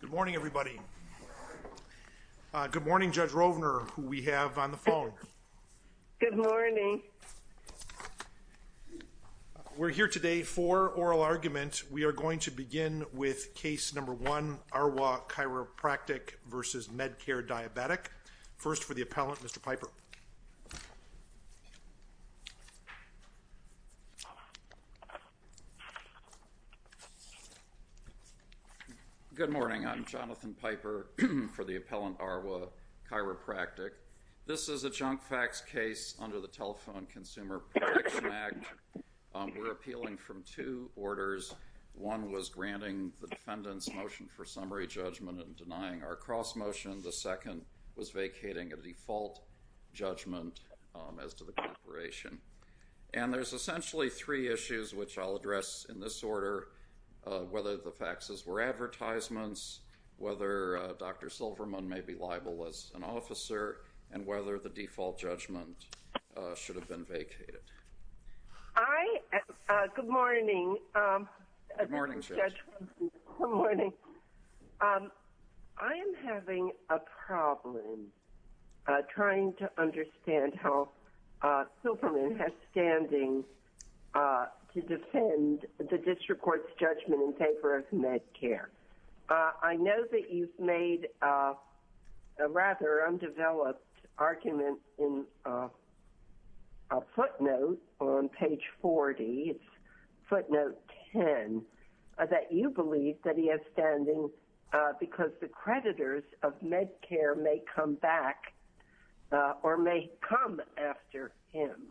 Good morning everybody. Good morning Judge Rovner who we have on the phone. Good morning. We're here today for oral argument. We are going to begin with case number one, Arwa Chiropractic v. Med-Care Diabetic. First for the Good morning. I'm Jonathan Piper for the appellant Arwa Chiropractic. This is a junk fax case under the Telephone Consumer Protection Act. We're appealing from two orders. One was granting the defendant's motion for summary judgment and denying our cross motion. The second was vacating a default judgment as to the corporation. And there's essentially three issues which I'll address in this order, whether the faxes were advertisements, whether Dr. Silverman may be liable as an officer, and whether the default judgment should have been vacated. Good morning Judge Rovner. Good morning. I am having a problem trying to understand how Silverman has standing to defend the district court's judgment in favor of Med-Care. I know that you've made a rather undeveloped argument in a footnote on page 40, footnote 10, that you believe that he has standing because the creditors of Med-Care may come back or may come after him.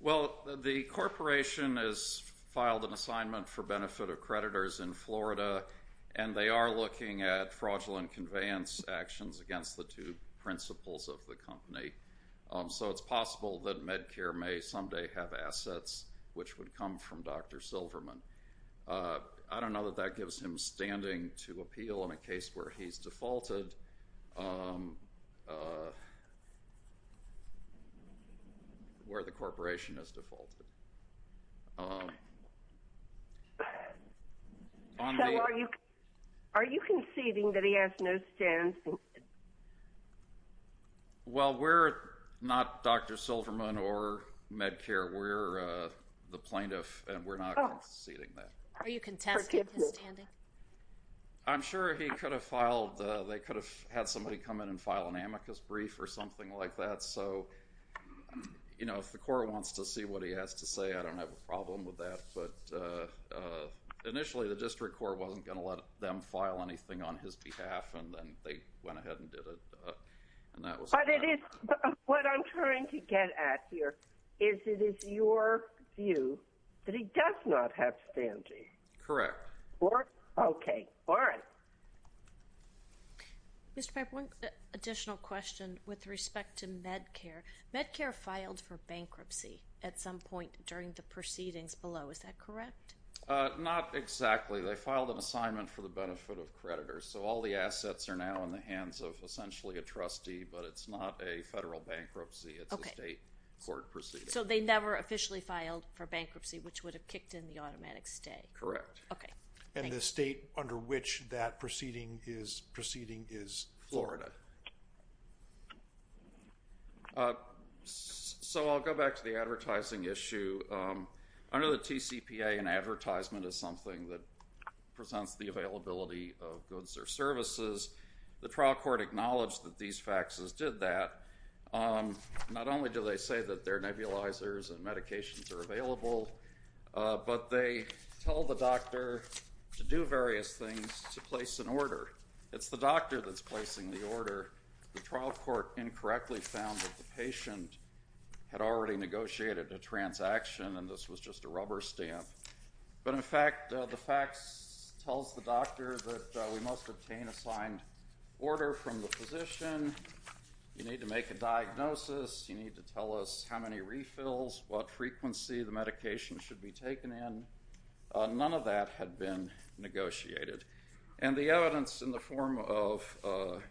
Well, the corporation has filed an assignment for benefit of creditors in Florida, and they are looking at fraudulent conveyance actions against the two principles of the company. So it's possible that Med-Care may someday have assets which would come from Dr. Silverman. I don't know that that gives him standing to appeal in a case where he's defaulted, where the corporation has defaulted. So are you conceding that he has no standing? Well, we're not Dr. Silverman or Med-Care. We're the plaintiff, and we're not conceding that. Are you contesting his standing? I'm sure he could have filed, they could have had somebody come in and file an amicus brief or something like that. So, you know, if the court wants to what he has to say, I don't have a problem with that. But initially, the district court wasn't going to let them file anything on his behalf, and then they went ahead and did it. And that was... What I'm trying to get at here is it is your view that he does not have standing? Correct. Okay. All right. Mr. Piper, one additional question with respect to Med-Care. Med-Care filed for bankruptcy at some point during the proceedings below. Is that correct? Not exactly. They filed an assignment for the benefit of creditors. So all the assets are now in the hands of essentially a trustee, but it's not a federal bankruptcy. It's a state court proceeding. So they never officially filed for bankruptcy, which would have kicked in the automatic stay. Correct. Okay. And the state under which that proceeding is proceeding is Florida. Okay. So I'll go back to the advertising issue. Under the TCPA, an advertisement is something that presents the availability of goods or services. The trial court acknowledged that these faxes did that. Not only do they say that their nebulizers and medications are available, but they tell the doctor to do various things to place an order. It's the doctor that's placing the order. The trial court incorrectly found that the patient had already negotiated a transaction, and this was just a rubber stamp. But in fact, the fax tells the doctor that we must obtain a signed order from the physician. You need to make a diagnosis. You need to tell us how many refills, what frequency the medication should be taken in. None of that had been negotiated. And the evidence in the form of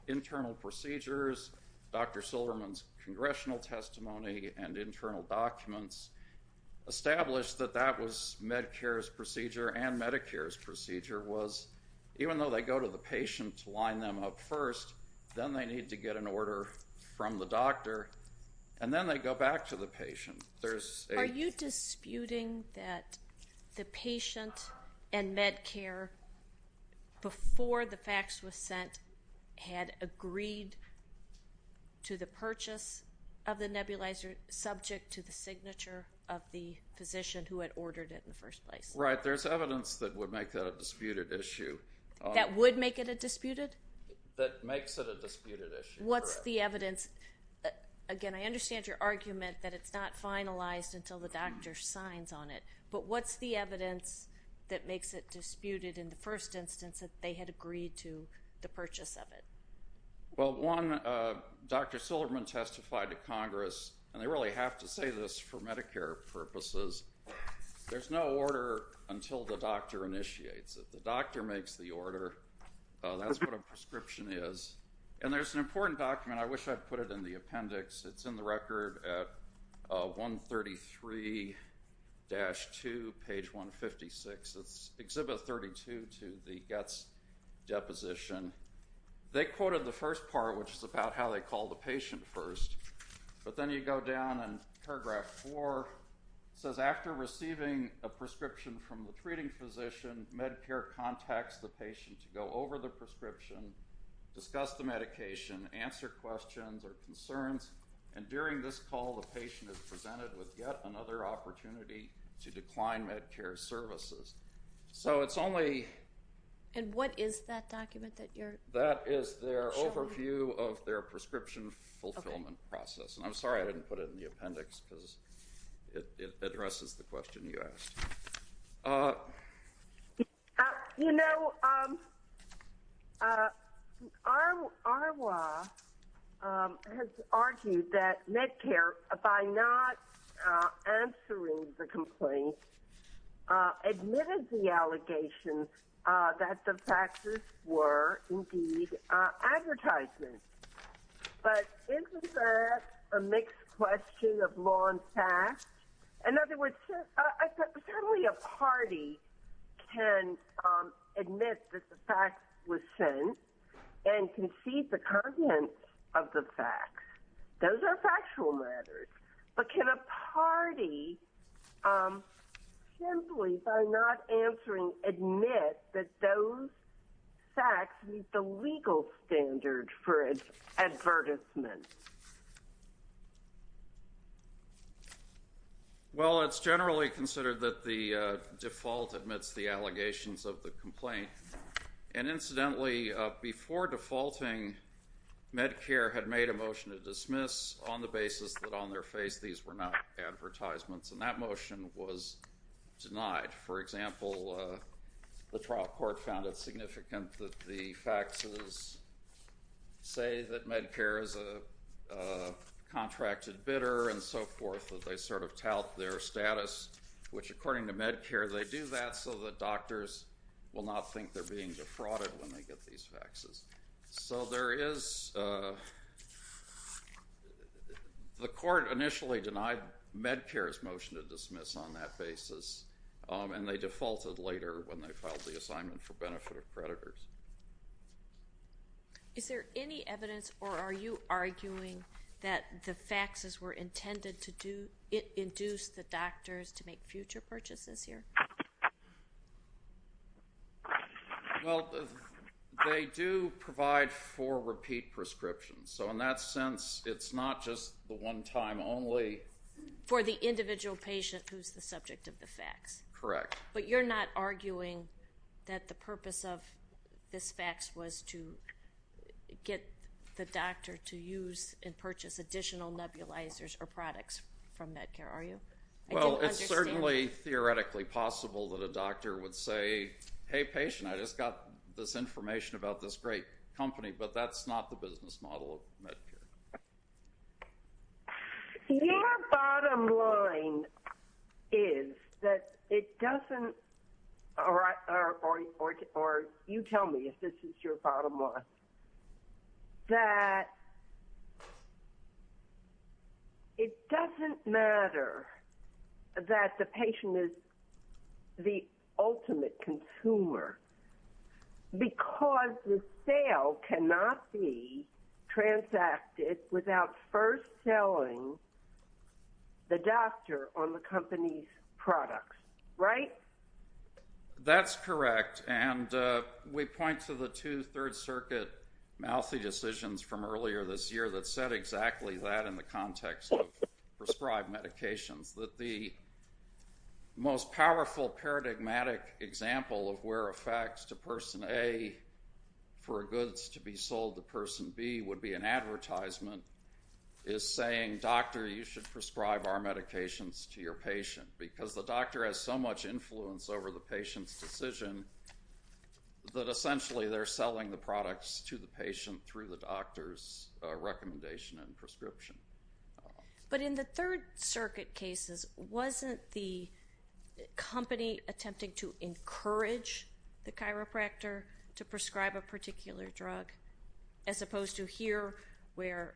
internal procedures, Dr. Silverman's congressional testimony and internal documents established that that was Medicare's procedure and Medicare's procedure was, even though they go to the patient to line them up first, then they need to get an order from the doctor, and then they go back to the patient. Are you disputing that the patient and Medicare, before the fax was sent, had agreed to the purchase of the nebulizer subject to the signature of the physician who had ordered it in the first place? Right. There's evidence that would make that a disputed issue. That would make it a disputed? That makes it a disputed issue. What's the evidence? Again, I understand your argument that it's not finalized until the doctor signs on it, but what's the evidence that makes it disputed in the first instance that they had agreed to the purchase of it? Well, one, Dr. Silverman testified to Congress, and they really have to say this for Medicare purposes, there's no order until the doctor initiates it. The doctor makes the order. That's what a prescription is. And there's an important document. I wish I'd put it in the appendix. It's in the record at 133-2, page 156. It's Exhibit 32 to the Getz deposition. They quoted the first part, which is about how they call the patient first, but then you go down and paragraph four says, after receiving a prescription from the treating physician, Medicare contacts the patient to go over the prescription, discuss the medication, answer questions or concerns, and during this call, the patient is presented with yet another opportunity to decline Medicare services. So it's only... And what is that document that you're... That is their overview of their prescription fulfillment process. And I'm sorry I didn't put it in the appendix because it addresses the question you asked. You know, our law has argued that Medicare, by not answering the complaint, admitted the allegation that the faxes were indeed advertisements. But isn't that a mixed question of law and facts? In other words, certainly a party can admit that the fax was sent and concede the content of the fax. Those are factual matters. But can a party, simply by not answering, admit that those fax meet the legal standard for its advertisements? Well, it's generally considered that the default admits the allegations of the complaint. And incidentally, before defaulting, Medicare had made a motion to dismiss on the basis that on their face these were not advertisements. And that motion was denied. For example, the trial court found it significant that the faxes say that Medicare is a contracted bidder and so forth, that they sort of tout their status, which according to Medicare, they do that so that doctors will not think they're being defrauded when they get these faxes. The court initially denied Medicare's motion to dismiss on that basis, and they defaulted later when they filed the assignment for benefit of creditors. Is there any evidence, or are you arguing, that the faxes were intended to induce the doctors to make future purchases here? Well, they do provide for repeat prescriptions. So in that sense, it's not just the one time only. For the individual patient who's the subject of the fax? Correct. But you're not arguing that the purpose of this fax was to get the doctor to use and purchase additional nebulizers or products from Medicare, are you? Well, it's certainly theoretically possible that a doctor would say, hey, patient, I just got this information about this great company, but that's not the business model of Medicare. Your bottom line is that it doesn't, or you tell me if this is your bottom line, is that it doesn't matter that the patient is the ultimate consumer because the sale cannot be transacted without first selling the doctor on the company's products, right? That's correct. And we point to the two Third Circuit mouthy decisions from earlier this year that said exactly that in the context of prescribed medications, that the most powerful paradigmatic example of where a fax to person A for goods to be sold to person B would be an advertisement is saying, doctor, you should prescribe our medications to your patient because the doctor has so much influence over the patient's decision that essentially they're selling the products to the patient through the doctor's recommendation and prescription. But in the Third Circuit cases, wasn't the company attempting to encourage the chiropractor to prescribe a particular drug as opposed to here where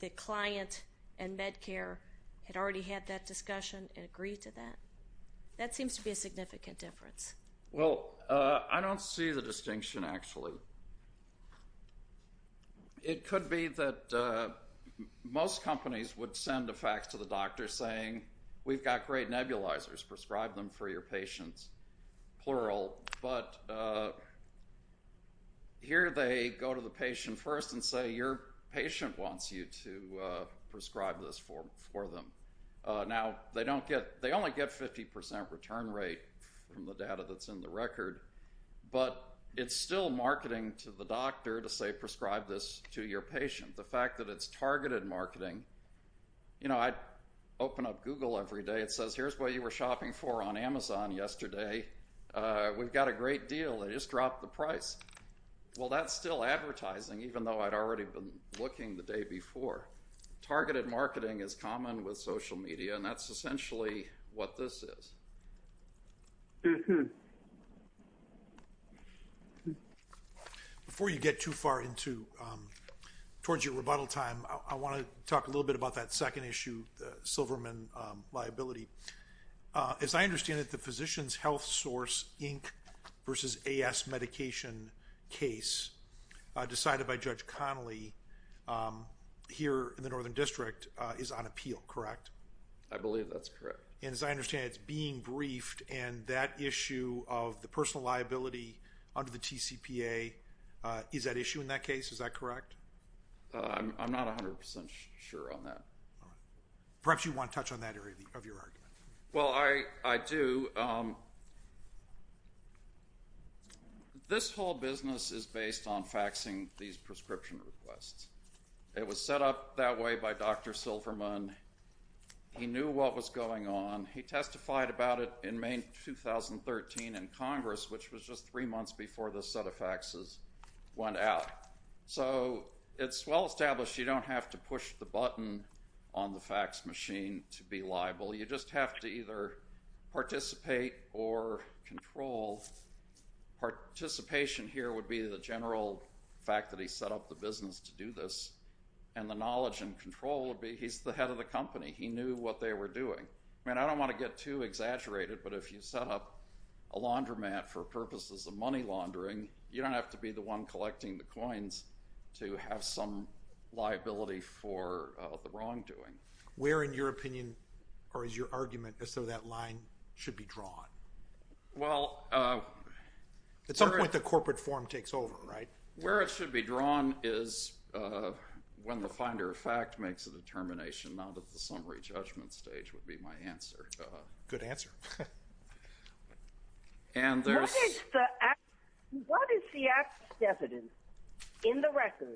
the client and Medicare had already had that discussion and agreed to that? That seems to be a significant difference. Well, I don't see the distinction, actually. It could be that most companies would send a fax to the doctor saying, we've got great nebulizers, prescribe them for your patients, plural. But here they go to the patient first and say, your patient wants you to prescribe this for them. Now, they only get 50% return rate from the data that's in the record. But it's still marketing to the doctor to say, prescribe this to your patient. The fact that it's targeted marketing. I open up Google every day. It says, here's what you were shopping for on Amazon yesterday. We've got a great deal. It just dropped the price. Well, that's still advertising, even though I'd already been looking the day before. Targeted marketing is common with social media, and that's essentially what this is. Before you get too far into towards your rebuttal time, I want to talk a little bit about that second issue, the Silverman liability. As I understand it, the Physician's Health Source Inc. versus AS Medication case decided by Judge Connolly here in the Northern District is on appeal, correct? I believe that's correct. And as I understand, it's being briefed. And that issue of the personal liability under the TCPA, is that issue in that case? Is that correct? I'm not 100% sure on that. Perhaps you want to touch on that area of your argument. Well, I do. This whole business is based on faxing these prescription requests. It was set up that way by Dr. Silverman. He knew what was going on. He testified about it in May 2013 in Congress, which was just three months before this set of faxes went out. So it's well established you don't have to push the button on the fax machine to be liable. You just have to either participate or control. Participation here would be the general fact that he set up the business to do this. And the knowledge and control would be he's the head of the company. He knew what they were doing. I mean, I don't want to get too exaggerated, but if you set up a laundromat for purposes of money laundering, you don't have to be the one collecting the coins to have some liability for the wrongdoing. Where, in your opinion, or is your argument, is so that line should be drawn? At some point, the corporate form takes over, right? Where it should be drawn is when the finder of fact makes a determination, not at the summary judgment stage, would be my answer. Good answer. What is the evidence in the record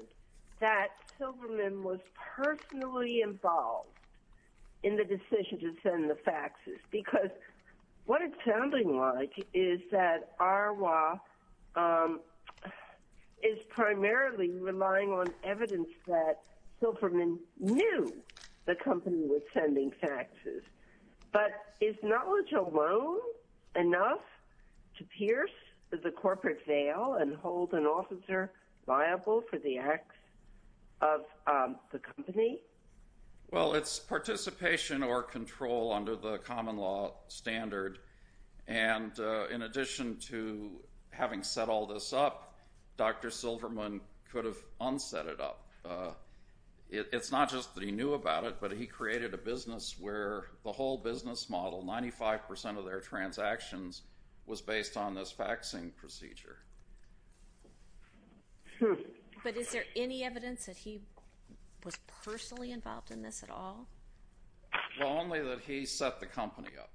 that Silverman was personally involved in the decision to send the faxes? Because what it's sounding like is that Arwa is primarily relying on evidence that Silverman knew the company was sending faxes, but is knowledge alone enough to pierce the corporate veil and hold an officer liable for the acts of the company? Well, it's participation or control under the common law standard. And in addition to having set all this up, Dr. Silverman could have unset it up. It's not just that he knew about it, but he created a business where the whole business model, 95% of their transactions, was based on this faxing procedure. But is there any evidence that he was personally involved in this at all? Well, only that he set the company up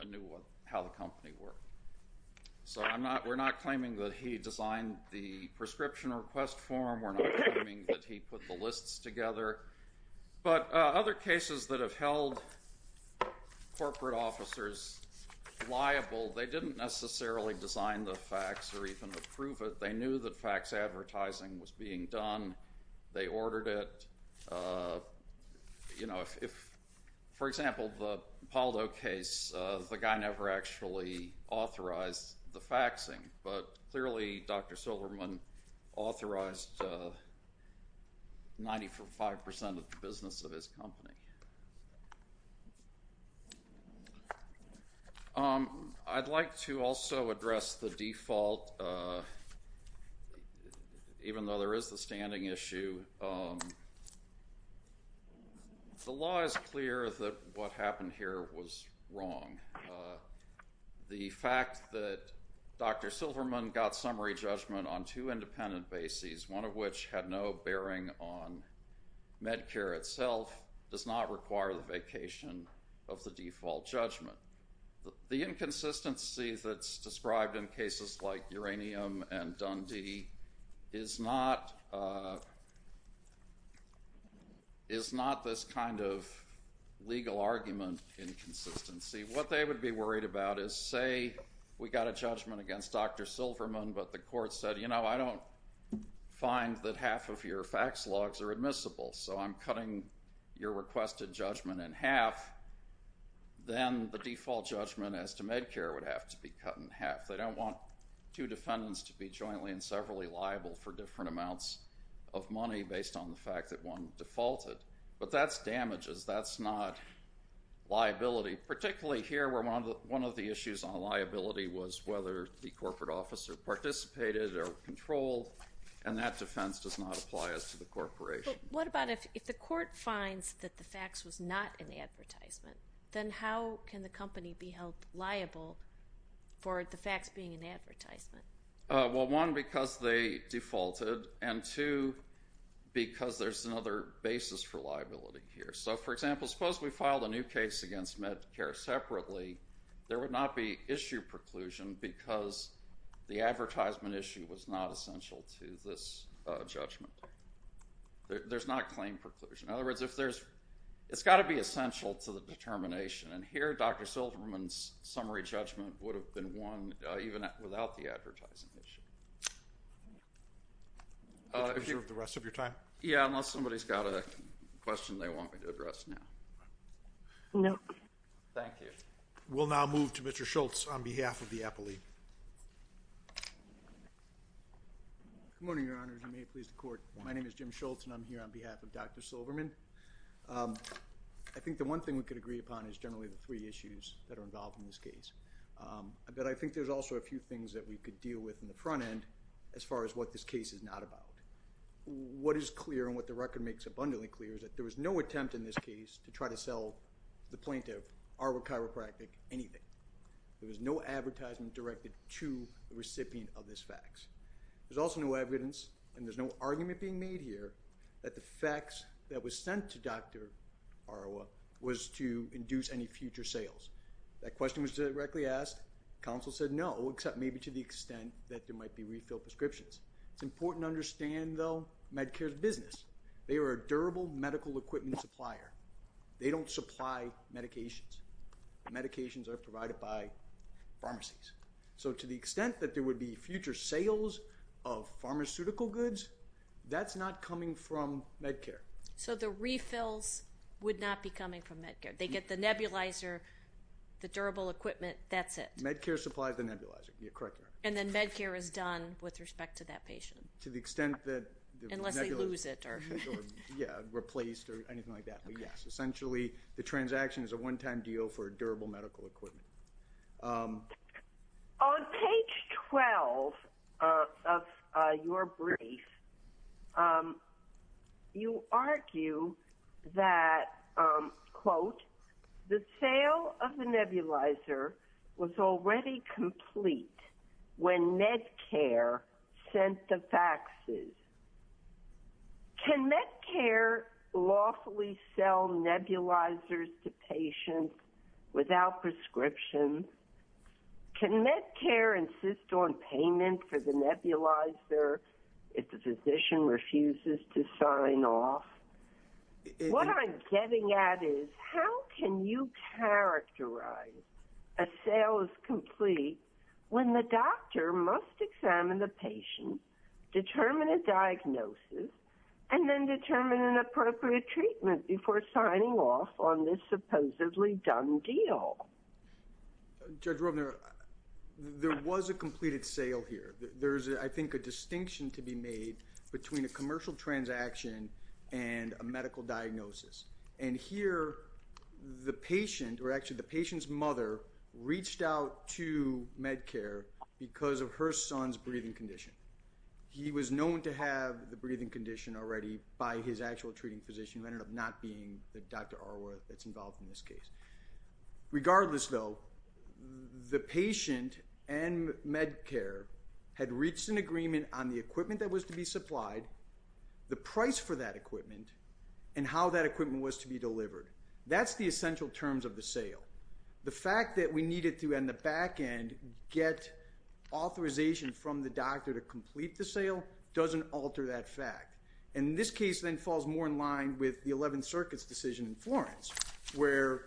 and knew how the company worked. So we're not claiming that he designed the prescription request form. We're not claiming that he put the lists together. But other cases that have held corporate officers liable, they didn't necessarily design the fax or even approve it. They knew that fax advertising was being done. They ordered it. You know, if, for example, the Paldo case, the guy never actually authorized the faxing. But clearly, Dr. Silverman authorized 95% of the business of his company. I'd like to also address the default, even though there is the standing issue. The law is clear that what happened here was wrong. The fact that Dr. Silverman got summary judgment on two independent bases, one of which had no bearing on Medicare itself, does not require the vacation of the default judgment. The inconsistency that's described in cases like Uranium and Dundee is not this kind of legal argument inconsistency. What they would be worried about is, say we got a judgment against Dr. Silverman, but the court said, you know, I don't find that half of your fax logs are admissible, so I'm cutting your requested judgment in half. Then the default judgment as to Medicare would have to be cut in half. They don't want two defendants to be jointly and severally liable for different amounts of money based on the fact that one defaulted. But that's damages. That's not liability. Particularly here where one of the issues on liability was whether the corporate officer participated or controlled, and that defense does not apply as to the corporation. What about if the court finds that the fax was not an advertisement, then how can the company be held liable for the fax being an advertisement? Well, one, because they defaulted, and two, because there's another basis for liability here. So, for example, suppose we filed a new case against Medicare separately. There would not be issue preclusion because the advertisement issue was not essential to this judgment. There's not claim preclusion. In other words, it's got to be essential to the determination. And here, Dr. Silverman's summary judgment would have been won even without the advertising issue. Are you sure of the rest of your time? Yeah, unless somebody's got a question they want me to address now. Nope. Thank you. We'll now move to Mr. Schultz on behalf of the appellee. Good morning, Your Honor. If you may please the court. My name is Jim Schultz, and I'm here on behalf of Dr. Silverman. I think the one thing we could agree upon is generally the three issues that are involved in this case. But I think there's also a few things that we could deal with in the front end as far as what this case is not about. What is clear and what the record makes abundantly clear is that there was no attempt in this case to try to sell the plaintiff, Arwa Chiropractic, anything. There was no advertisement directed to the recipient of this fax. There's also no evidence, and there's no argument being made here that the fax that was sent to Dr. Arwa was to induce any future sales. That question was directly asked. Counsel said no, except maybe to the extent that there might be refill prescriptions. It's important to understand, though, Medicare's business. They are a durable medical equipment supplier. They don't supply medications. Medications are provided by pharmacies. So to the extent that there would be future sales of pharmaceutical goods, that's not coming from Medicare. So the refills would not be coming from Medicare. They get the nebulizer, the durable equipment, that's it. Medicare supplies the nebulizer. You're correct, Your Honor. And then Medicare is done with respect to that patient? To the extent that the nebulizer... Unless they lose it or... Yeah, replaced or anything like that. But yes, essentially, the transaction is a one-time deal for a durable medical equipment. On page 12 of your brief, you argue that, quote, the sale of the nebulizer was already complete when Medicare sent the faxes. Can Medicare lawfully sell nebulizers to patients without prescription? Can Medicare insist on payment for the nebulizer if the physician refuses to sign off? What I'm getting at is, how can you characterize a sale as complete when the doctor must examine the patient, determine a diagnosis, and then determine an appropriate treatment before signing off on this supposedly done deal? Judge Robner, there was a completed sale here. There's, I think, a distinction to be made between a commercial transaction and a medical diagnosis. And here, the patient, or actually the patient's mother, reached out to Medicare because of her son's breathing condition. He was known to have the breathing condition already by his actual treating physician, who ended up not being the Dr. Arworth that's involved in this case. Regardless, though, the patient and Medicare had reached an agreement on the equipment that was to be supplied, the price for that equipment, and how that equipment was to be delivered. That's the essential terms of the sale. The fact that we needed to, on the back end, get authorization from the doctor to complete the sale doesn't alter that fact. And this case then falls more in line with the 11th Circuit's decision in Florence, where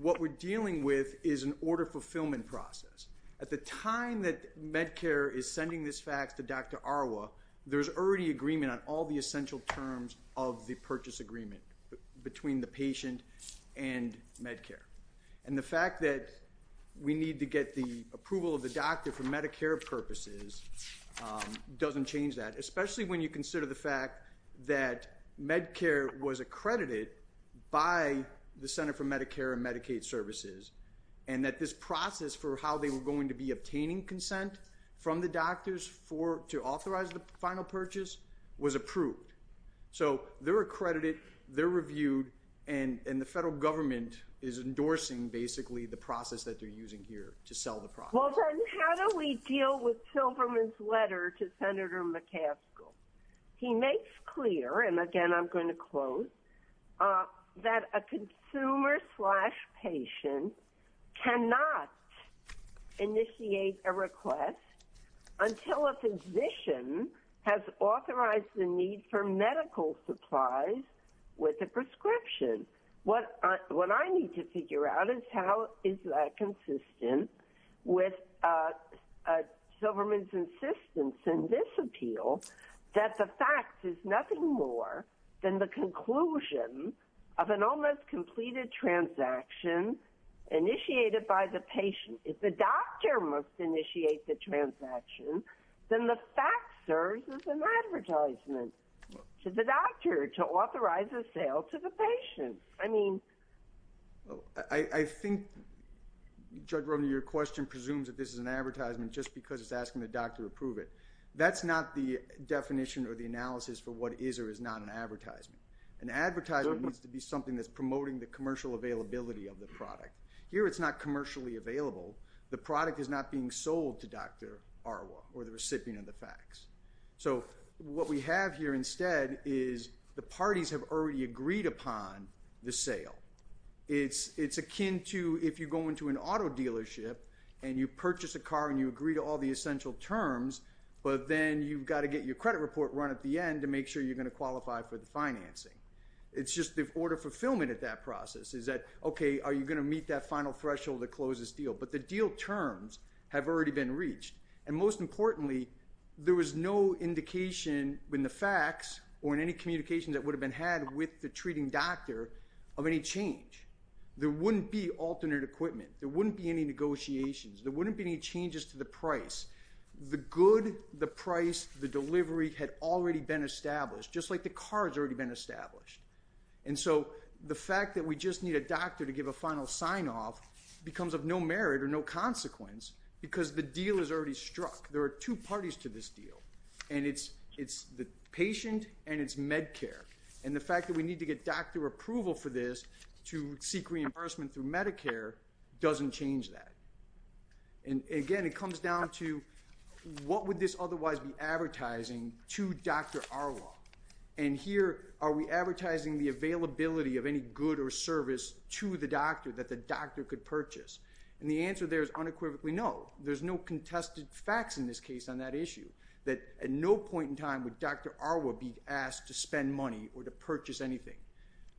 what we're dealing with is an order fulfillment process. At the time that Medicare is sending this fax to Dr. Arworth, there's already agreement on all the essential terms of the purchase agreement between the patient and Medicare. And the fact that we need to get the approval of the doctor for Medicare purposes doesn't change that, especially when you consider the fact that Medicare was accredited by the Center for Medicare and Medicaid Services, and that this process for how they were going to be obtaining consent from the doctors to authorize the final purchase was approved. So they're accredited, they're reviewed, and the federal government is endorsing, basically, the process that they're using here to sell the product. Well, then how do we deal with Silverman's letter to Senator McCaskill? He makes clear, and again, I'm going to quote, that a consumer-slash-patient cannot initiate a request until a physician has authorized the need for medical supplies with a prescription. What I need to figure out is how is that consistent with Silverman's insistence in this appeal that the fact is nothing more than the conclusion of an almost-completed transaction initiated by the patient. If the doctor must initiate the transaction, then the fact serves as an advertisement to the doctor to authorize a sale to the patient. I mean, I think, Judge Romney, your question presumes that this is an advertisement just because it's asking the doctor to approve it. That's not the definition or the analysis for what is or is not an advertisement. An advertisement needs to be something that's promoting the commercial availability of the product. Here, it's not commercially available. The product is not being sold to Dr. Arwa or the recipient of the fax. So what we have here instead is the parties have already agreed upon the sale. It's akin to if you go into an auto dealership and you purchase a car and you agree to all the essential terms, but then you've got to get your credit report run at the end to make sure you're going to qualify for the financing. It's just the order of fulfillment at that process is that, okay, are you going to meet that final threshold to close this deal? But the deal terms have already been reached. And most importantly, there was no indication in the fax or in any communication that would have been had with the treating doctor of any change. There wouldn't be alternate equipment. There wouldn't be any negotiations. There wouldn't be any changes to the price. The good, the price, the delivery had already been established, just like the car has already been established. And so the fact that we just need a doctor to give a final sign-off becomes of no merit or no consequence because the deal is already struck. There are two parties to this deal. And it's the patient and it's Medicare. And the fact that we need to get doctor approval for this to seek reimbursement through Medicare doesn't change that. And again, it comes down to what would this otherwise be advertising to Dr. Arwa? And here, are we advertising the availability of any good or service to the doctor that the doctor could purchase? And the answer there is unequivocally no. There's no contested facts in this case on that issue that at no point in time would Dr. Arwa be asked to spend money or to purchase anything.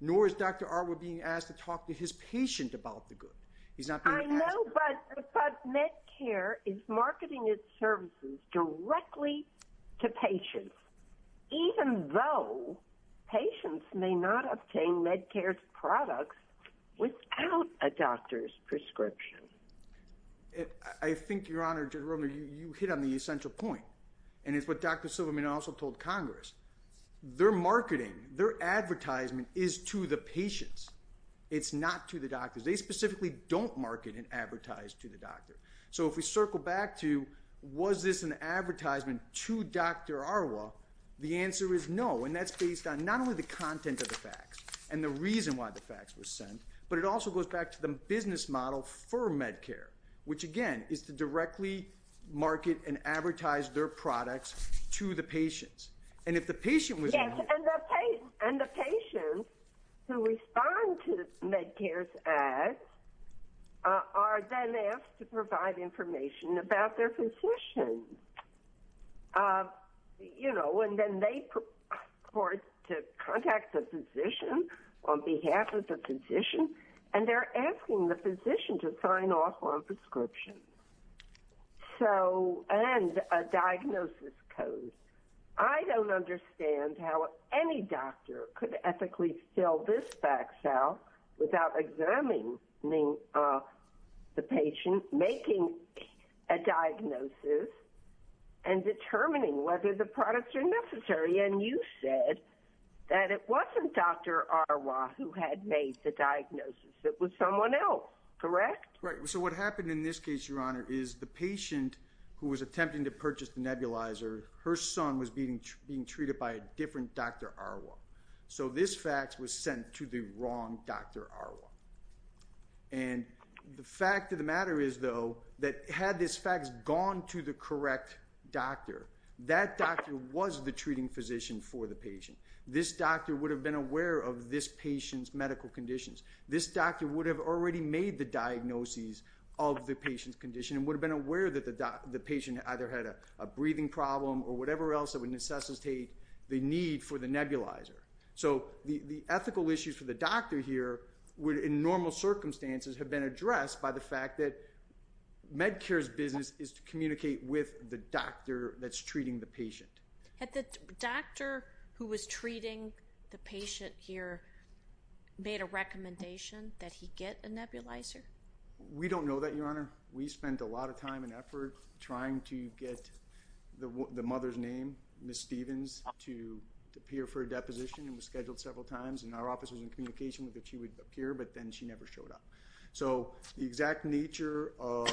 Nor is Dr. Arwa being asked to talk to his patient about the good. He's not being asked. I know, but Medicare is marketing its services directly to patients, even though patients may not obtain Medicare's products without a doctor's prescription. I think, Your Honor, Judge Romer, you hit on the essential point. And it's what Dr. Silverman also told Congress. Their marketing, their advertisement is to the patients. It's not to the doctors. They specifically don't market and advertise to the doctor. So if we circle back to, was this an advertisement to Dr. Arwa? The answer is no. And that's based on not only the content of the facts and the reason why the facts were sent, but it also goes back to the business model for Medicare, which again, is to directly market and advertise their products to the patients. And if the patient was- And the patients who respond to Medicare's ads are then asked to provide information about their physician. You know, and then they report to contact the physician on behalf of the physician, and they're asking the physician to sign off on prescriptions. So, and a diagnosis code. I don't understand how any doctor could ethically fill this fact out without examining the patient, making a diagnosis, and determining whether the products are necessary. And you said that it wasn't Dr. Arwa who had made the diagnosis. It was someone else, correct? Right. So what happened in this case, Your Honor, is the patient who was attempting to purchase the nebulizer, her son was being treated by a different Dr. Arwa. So this fact was sent to the wrong Dr. Arwa. And the fact of the matter is, though, that had this fact gone to the correct doctor, that doctor was the treating physician for the patient. This doctor would have been aware of this patient's medical conditions. This doctor would have already made the diagnoses of the patient's condition and would have been aware that the patient either had a breathing problem or whatever else that would necessitate the need for the nebulizer. So the ethical issues for the doctor here would, in normal circumstances, have been addressed by the fact that Medicare's business is to communicate with the doctor that's treating the patient. Had the doctor who was treating the patient here made a recommendation that he get a nebulizer? We don't know that, Your Honor. We spent a lot of time and effort trying to get the mother's name, Ms. Stevens, to appear for a deposition. It was scheduled several times, and our office was in communication with her that she would appear, but then she never showed up. So the exact nature of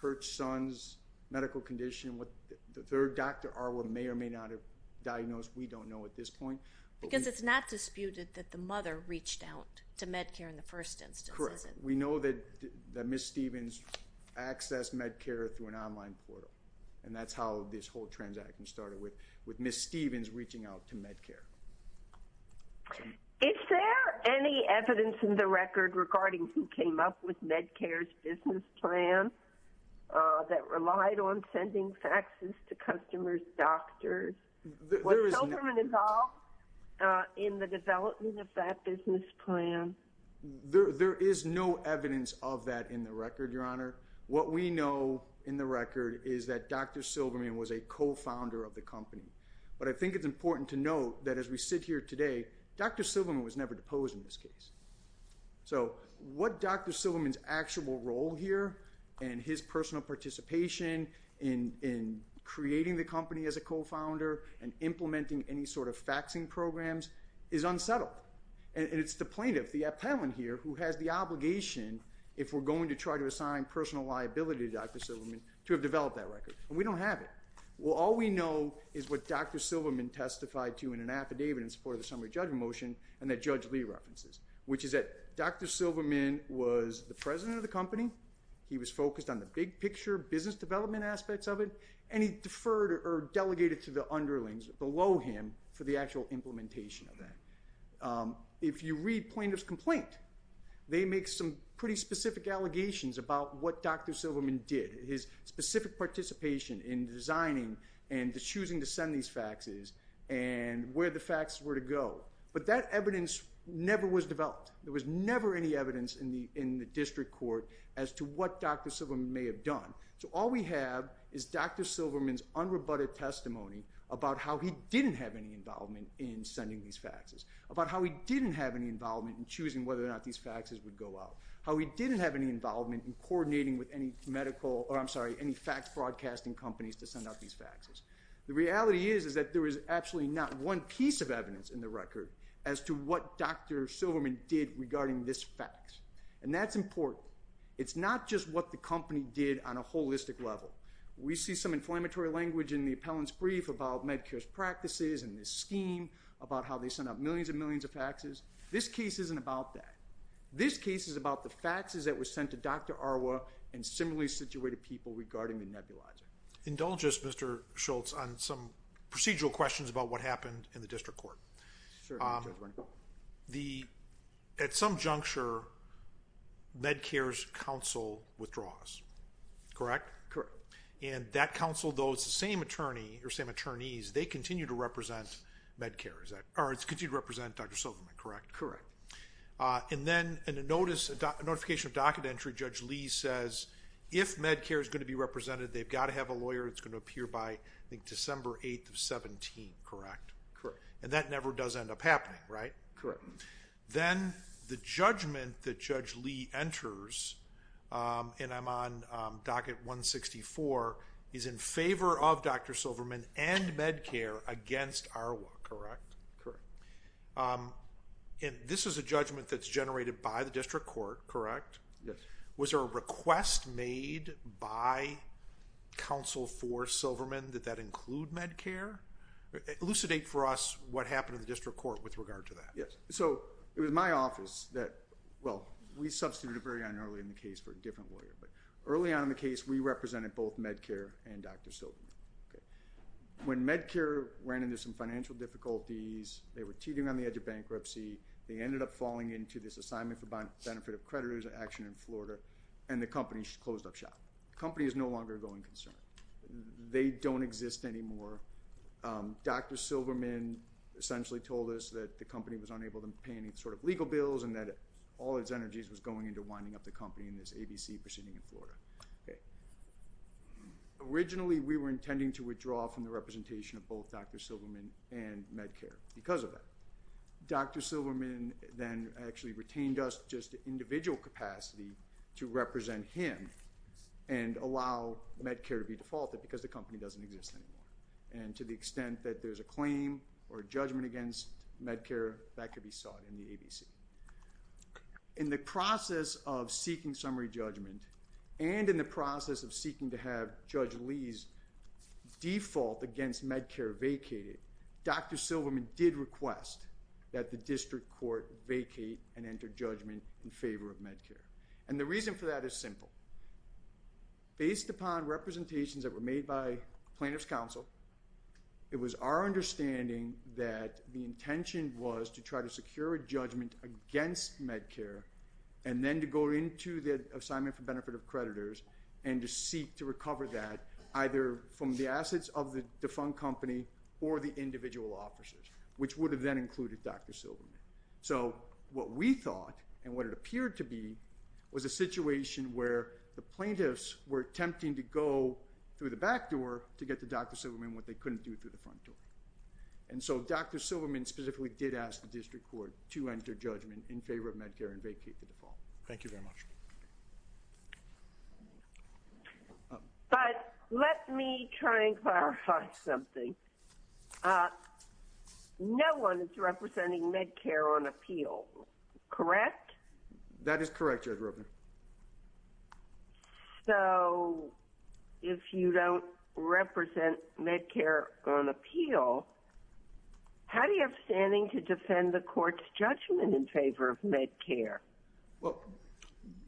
her son's medical condition, what the third Dr. Arwa may or may not have diagnosed, we don't know at this point. Because it's not disputed that the mother reached out to Medicare in the first instance. Correct. We know that Ms. Stevens accessed Medicare through an online portal, and that's how this whole transaction started, with Ms. Stevens reaching out to Medicare. Is there any evidence in the record regarding who came up with Medicare's business plan that relied on sending faxes to customers' doctors? There is no... Was Silverman involved in the development of that business plan? There is no evidence of that in the record, Your Honor. What we know in the record is that Dr. Silverman was a co-founder of the company. But I think it's important to note that as we sit here today, Dr. Silverman was never deposed in this case. So what Dr. Silverman's actual role here, and his personal participation in creating the company as a co-founder, and implementing any sort of faxing programs, is unsettled. And it's the plaintiff, the appellant here, who has the obligation, if we're going to try to assign personal liability to Dr. Silverman, to have developed that record. And we don't have it. Well, all we know is what Dr. Silverman testified to in an affidavit in support of the summary judgment motion, and that Judge Lee references, which is that Dr. Silverman was the president of the company, he was focused on the big picture business development aspects of it, and he deferred or delegated to the underlings below him for the actual implementation of that. If you read plaintiff's complaint, they make some pretty specific allegations about what Dr. Silverman did, his specific participation in designing and choosing to send these faxes, and where the fax were to go. But that evidence never was developed. There was never any evidence in the district court as to what Dr. Silverman may have done. So all we have is Dr. Silverman's unrebutted testimony about how he didn't have any involvement in sending these faxes, about how he didn't have any involvement in choosing whether or not these faxes would go out, how he didn't have any involvement in coordinating with any medical, or I'm sorry, any fax broadcasting companies to send out these faxes. The reality is that there is actually not one piece of evidence in the record as to what Dr. Silverman did regarding this fax. And that's important. It's not just what the company did on a holistic level. We see some inflammatory language in the appellant's brief about Medicare's practices and this scheme, about how they send out millions and millions of faxes. This case isn't about that. This case is about the faxes that were sent to Dr. Arwa and similarly situated people regarding the nebulizer. Indulge us, Mr. Schultz, on some procedural questions about what happened in the district court. At some juncture, Medicare's counsel withdraws, correct? Correct. And that counsel, though it's the same attorney or same attorneys, they continue to represent Medicare, or continue to represent Dr. Silverman, correct? Correct. And then in a notification of docket entry, Judge Lee says, if Medicare is going to be represented, they've got to have a lawyer that's going to appear by, I think, December 8th of 17, correct? Correct. And that never does end up happening, right? Correct. Then the judgment that Judge Lee enters, and I'm on docket 164, is in favor of Dr. Silverman and Medicare against Arwa, correct? Correct. And this is a judgment that's generated by the district court, correct? Yes. Was there a request made by counsel for Silverman that that include Medicare? Elucidate for us what happened in the district court with regard to that. Yes. So it was my office that, well, we substituted very early in the case for a different lawyer, but early on in the case, we represented both Medicare and Dr. Silverman, okay? When Medicare ran into some financial difficulties, they were teetering on the edge of bankruptcy, they ended up falling into this assignment for benefit of creditors action in Florida, and the company closed up shop. The company is no longer a going concern. They don't exist anymore. Dr. Silverman essentially told us that the company was unable to pay any sort of legal bills, and that all its energies was going into winding up the company in this ABC proceeding in Florida. Originally, we were intending to withdraw from the representation of both Dr. Silverman and Medicare because of that. Dr. Silverman then actually retained us just individual capacity to represent him and allow Medicare to be defaulted because the company doesn't exist anymore. And to the extent that there's a claim or judgment against Medicare, that could be sought in the ABC. In the process of seeking summary judgment, and in the process of seeking to have Judge Lee's default against Medicare vacated, Dr. Silverman did request that the district court vacate and enter judgment in favor of Medicare. And the reason for that is simple. Based upon representations that were made by plaintiff's counsel, it was our understanding that the intention was to try to secure a judgment against Medicare, and then to go into the assignment for benefit of creditors and to seek to recover that either from the assets of the defunct company or the individual officers, which would have then included Dr. Silverman. So what we thought, and what it appeared to be, was a situation where the plaintiffs were attempting to go through the back door to get to Dr. Silverman, what they couldn't do through the front door. And so Dr. Silverman specifically did ask the district court to enter judgment in favor of Medicare and vacate the default. Thank you very much. But let me try and clarify something. No one is representing Medicare on appeal, correct? That is correct, Judge Roebner. So if you don't represent Medicare on appeal, how do you have standing to defend the court's judgment in favor of Medicare? Well,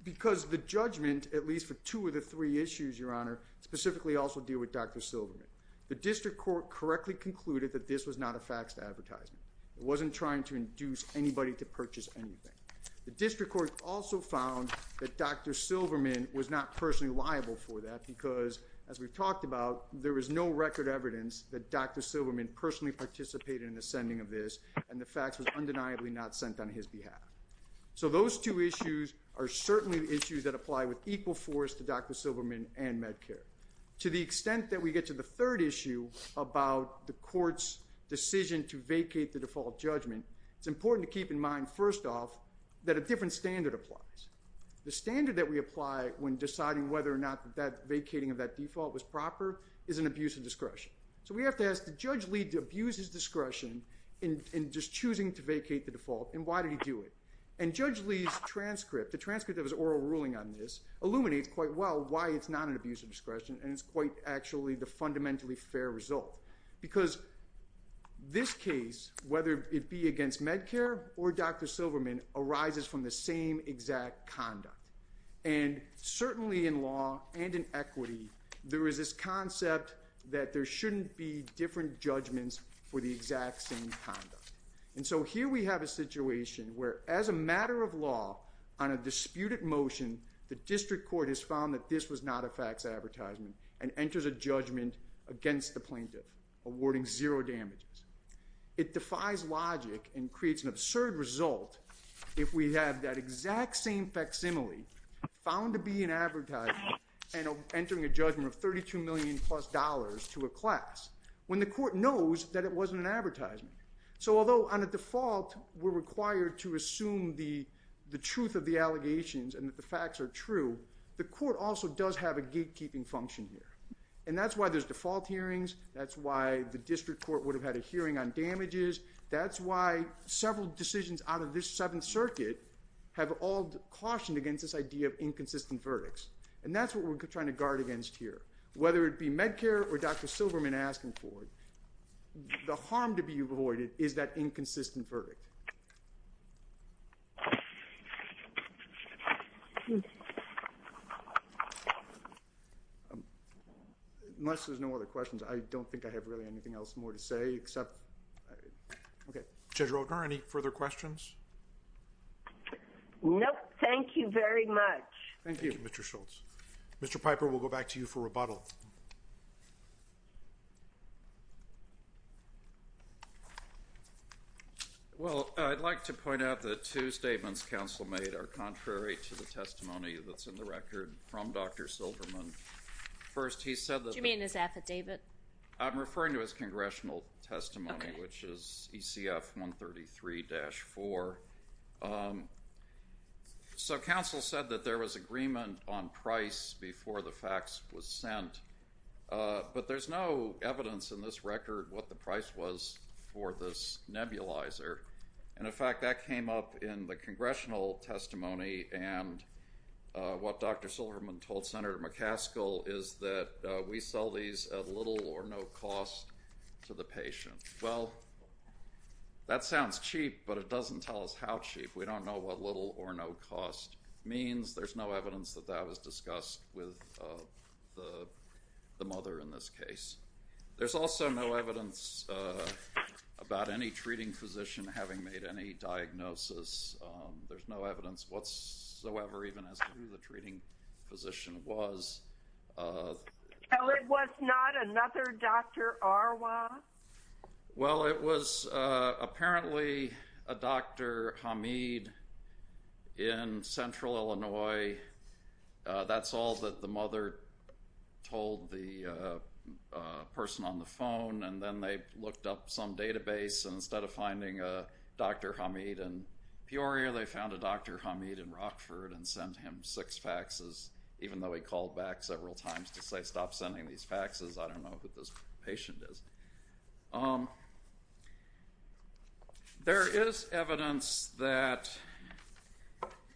because the judgment, at least for two of the three issues, Your Honor, specifically also deal with Dr. Silverman. The district court correctly concluded that this was not a faxed advertisement. It wasn't trying to induce anybody to purchase anything. The district court also found that Dr. Silverman was not personally liable for that because, as we've talked about, there was no record evidence that Dr. Silverman personally participated in the sending of this, and the fax was undeniably not sent on his behalf. So those two issues are certainly the issues that apply with equal force to Dr. Silverman and Medicare. To the extent that we get to the third issue about the court's decision to vacate the default judgment, it's important to keep in mind, first off, that a different standard applies. The standard that we apply when deciding whether or not that vacating of that default was proper is an abuse of discretion. So we have to ask, did Judge Lee abuse his discretion in just choosing to vacate the default, and why did he do it? And Judge Lee's transcript, the transcript of his oral ruling on this, illuminates quite well why it's not an abuse of discretion, and it's quite actually the fundamentally fair result. Because this case, whether it be against Medicare or Dr. Silverman, arises from the same exact conduct. And certainly in law and in equity, there is this concept that there shouldn't be different judgments for the exact same conduct. And so here we have a situation where, as a matter of law, on a disputed motion, the district court has found that this was not a fax advertisement and enters a judgment against the plaintiff, awarding zero damages. It defies logic and creates an absurd result if we have that exact same facsimile found to be an advertisement and entering a judgment of $32 million plus to a class, when the court knows that it wasn't an advertisement. So although on a default, we're required to assume the truth of the allegations and that the facts are true, the court also does have a gatekeeping function here. And that's why there's default hearings. That's why the district court would have had a hearing on damages. That's why several decisions out of this Seventh Circuit have all cautioned against this idea of inconsistent verdicts. And that's what we're trying to guard against here. Whether it be Medicare or Dr. Silverman asking for it, the harm to be avoided is that inconsistent verdict. Unless there's no other questions, I don't think I have really anything else more to say, except... Okay. Judge Roper, any further questions? Nope. Thank you very much. Thank you, Mr. Schultz. Mr. Piper, we'll go back to you for rebuttal. Well, I'd like to point out that two statements counsel made are contrary to the testimony that's in the record from Dr. Silverman. First, he said that... Do you mean his affidavit? I'm referring to his congressional testimony, which is ECF 133-4. So counsel said that there was agreement on price before the fax was sent. But there's no evidence in this record what the price was for this nebulizer. And in fact, that came up in the congressional testimony and what Dr. Silverman told Senator McCaskill is that we sell these at little or no cost to the patient. Well, that sounds cheap, but it doesn't tell us how cheap. We don't know what little or no cost means. There's no evidence that that was discussed with the mother in this case. There's also no evidence about any treating physician having made any diagnosis. There's no evidence whatsoever even as to who the treating physician was. So it was not another Dr. Arwa? Well, it was apparently a Dr. Hamid in Central Illinois. That's all that the mother told the person on the phone. And then they looked up some database. And instead of finding a Dr. Hamid in Peoria, they found a Dr. Hamid in Rockford and sent him six faxes, even though he called back several times to say stop sending these faxes. I don't know who this patient is. There is evidence that,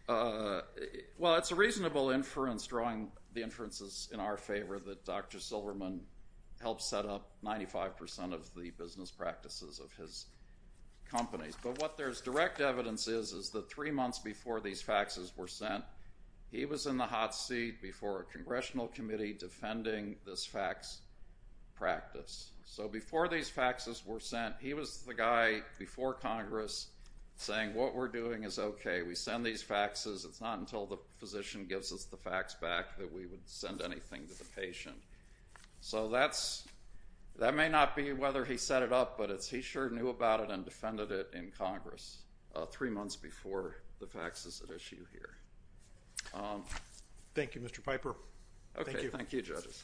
well, it's a reasonable inference drawing the inferences in our favor that Dr. Silverman helped set up 95% of the business practices of his companies. But what there's direct evidence is is that three months before these faxes were sent, he was in the hot seat before a congressional committee defending this fax practice. So before these faxes were sent, he was the guy before Congress saying what we're doing is okay. We send these faxes. It's not until the physician gives us the fax back that we would send anything to the patient. So that may not be whether he set it up, but he sure knew about it and defended it in Congress three months before the faxes at issue here. Thank you, Mr. Piper. Okay, thank you, judges.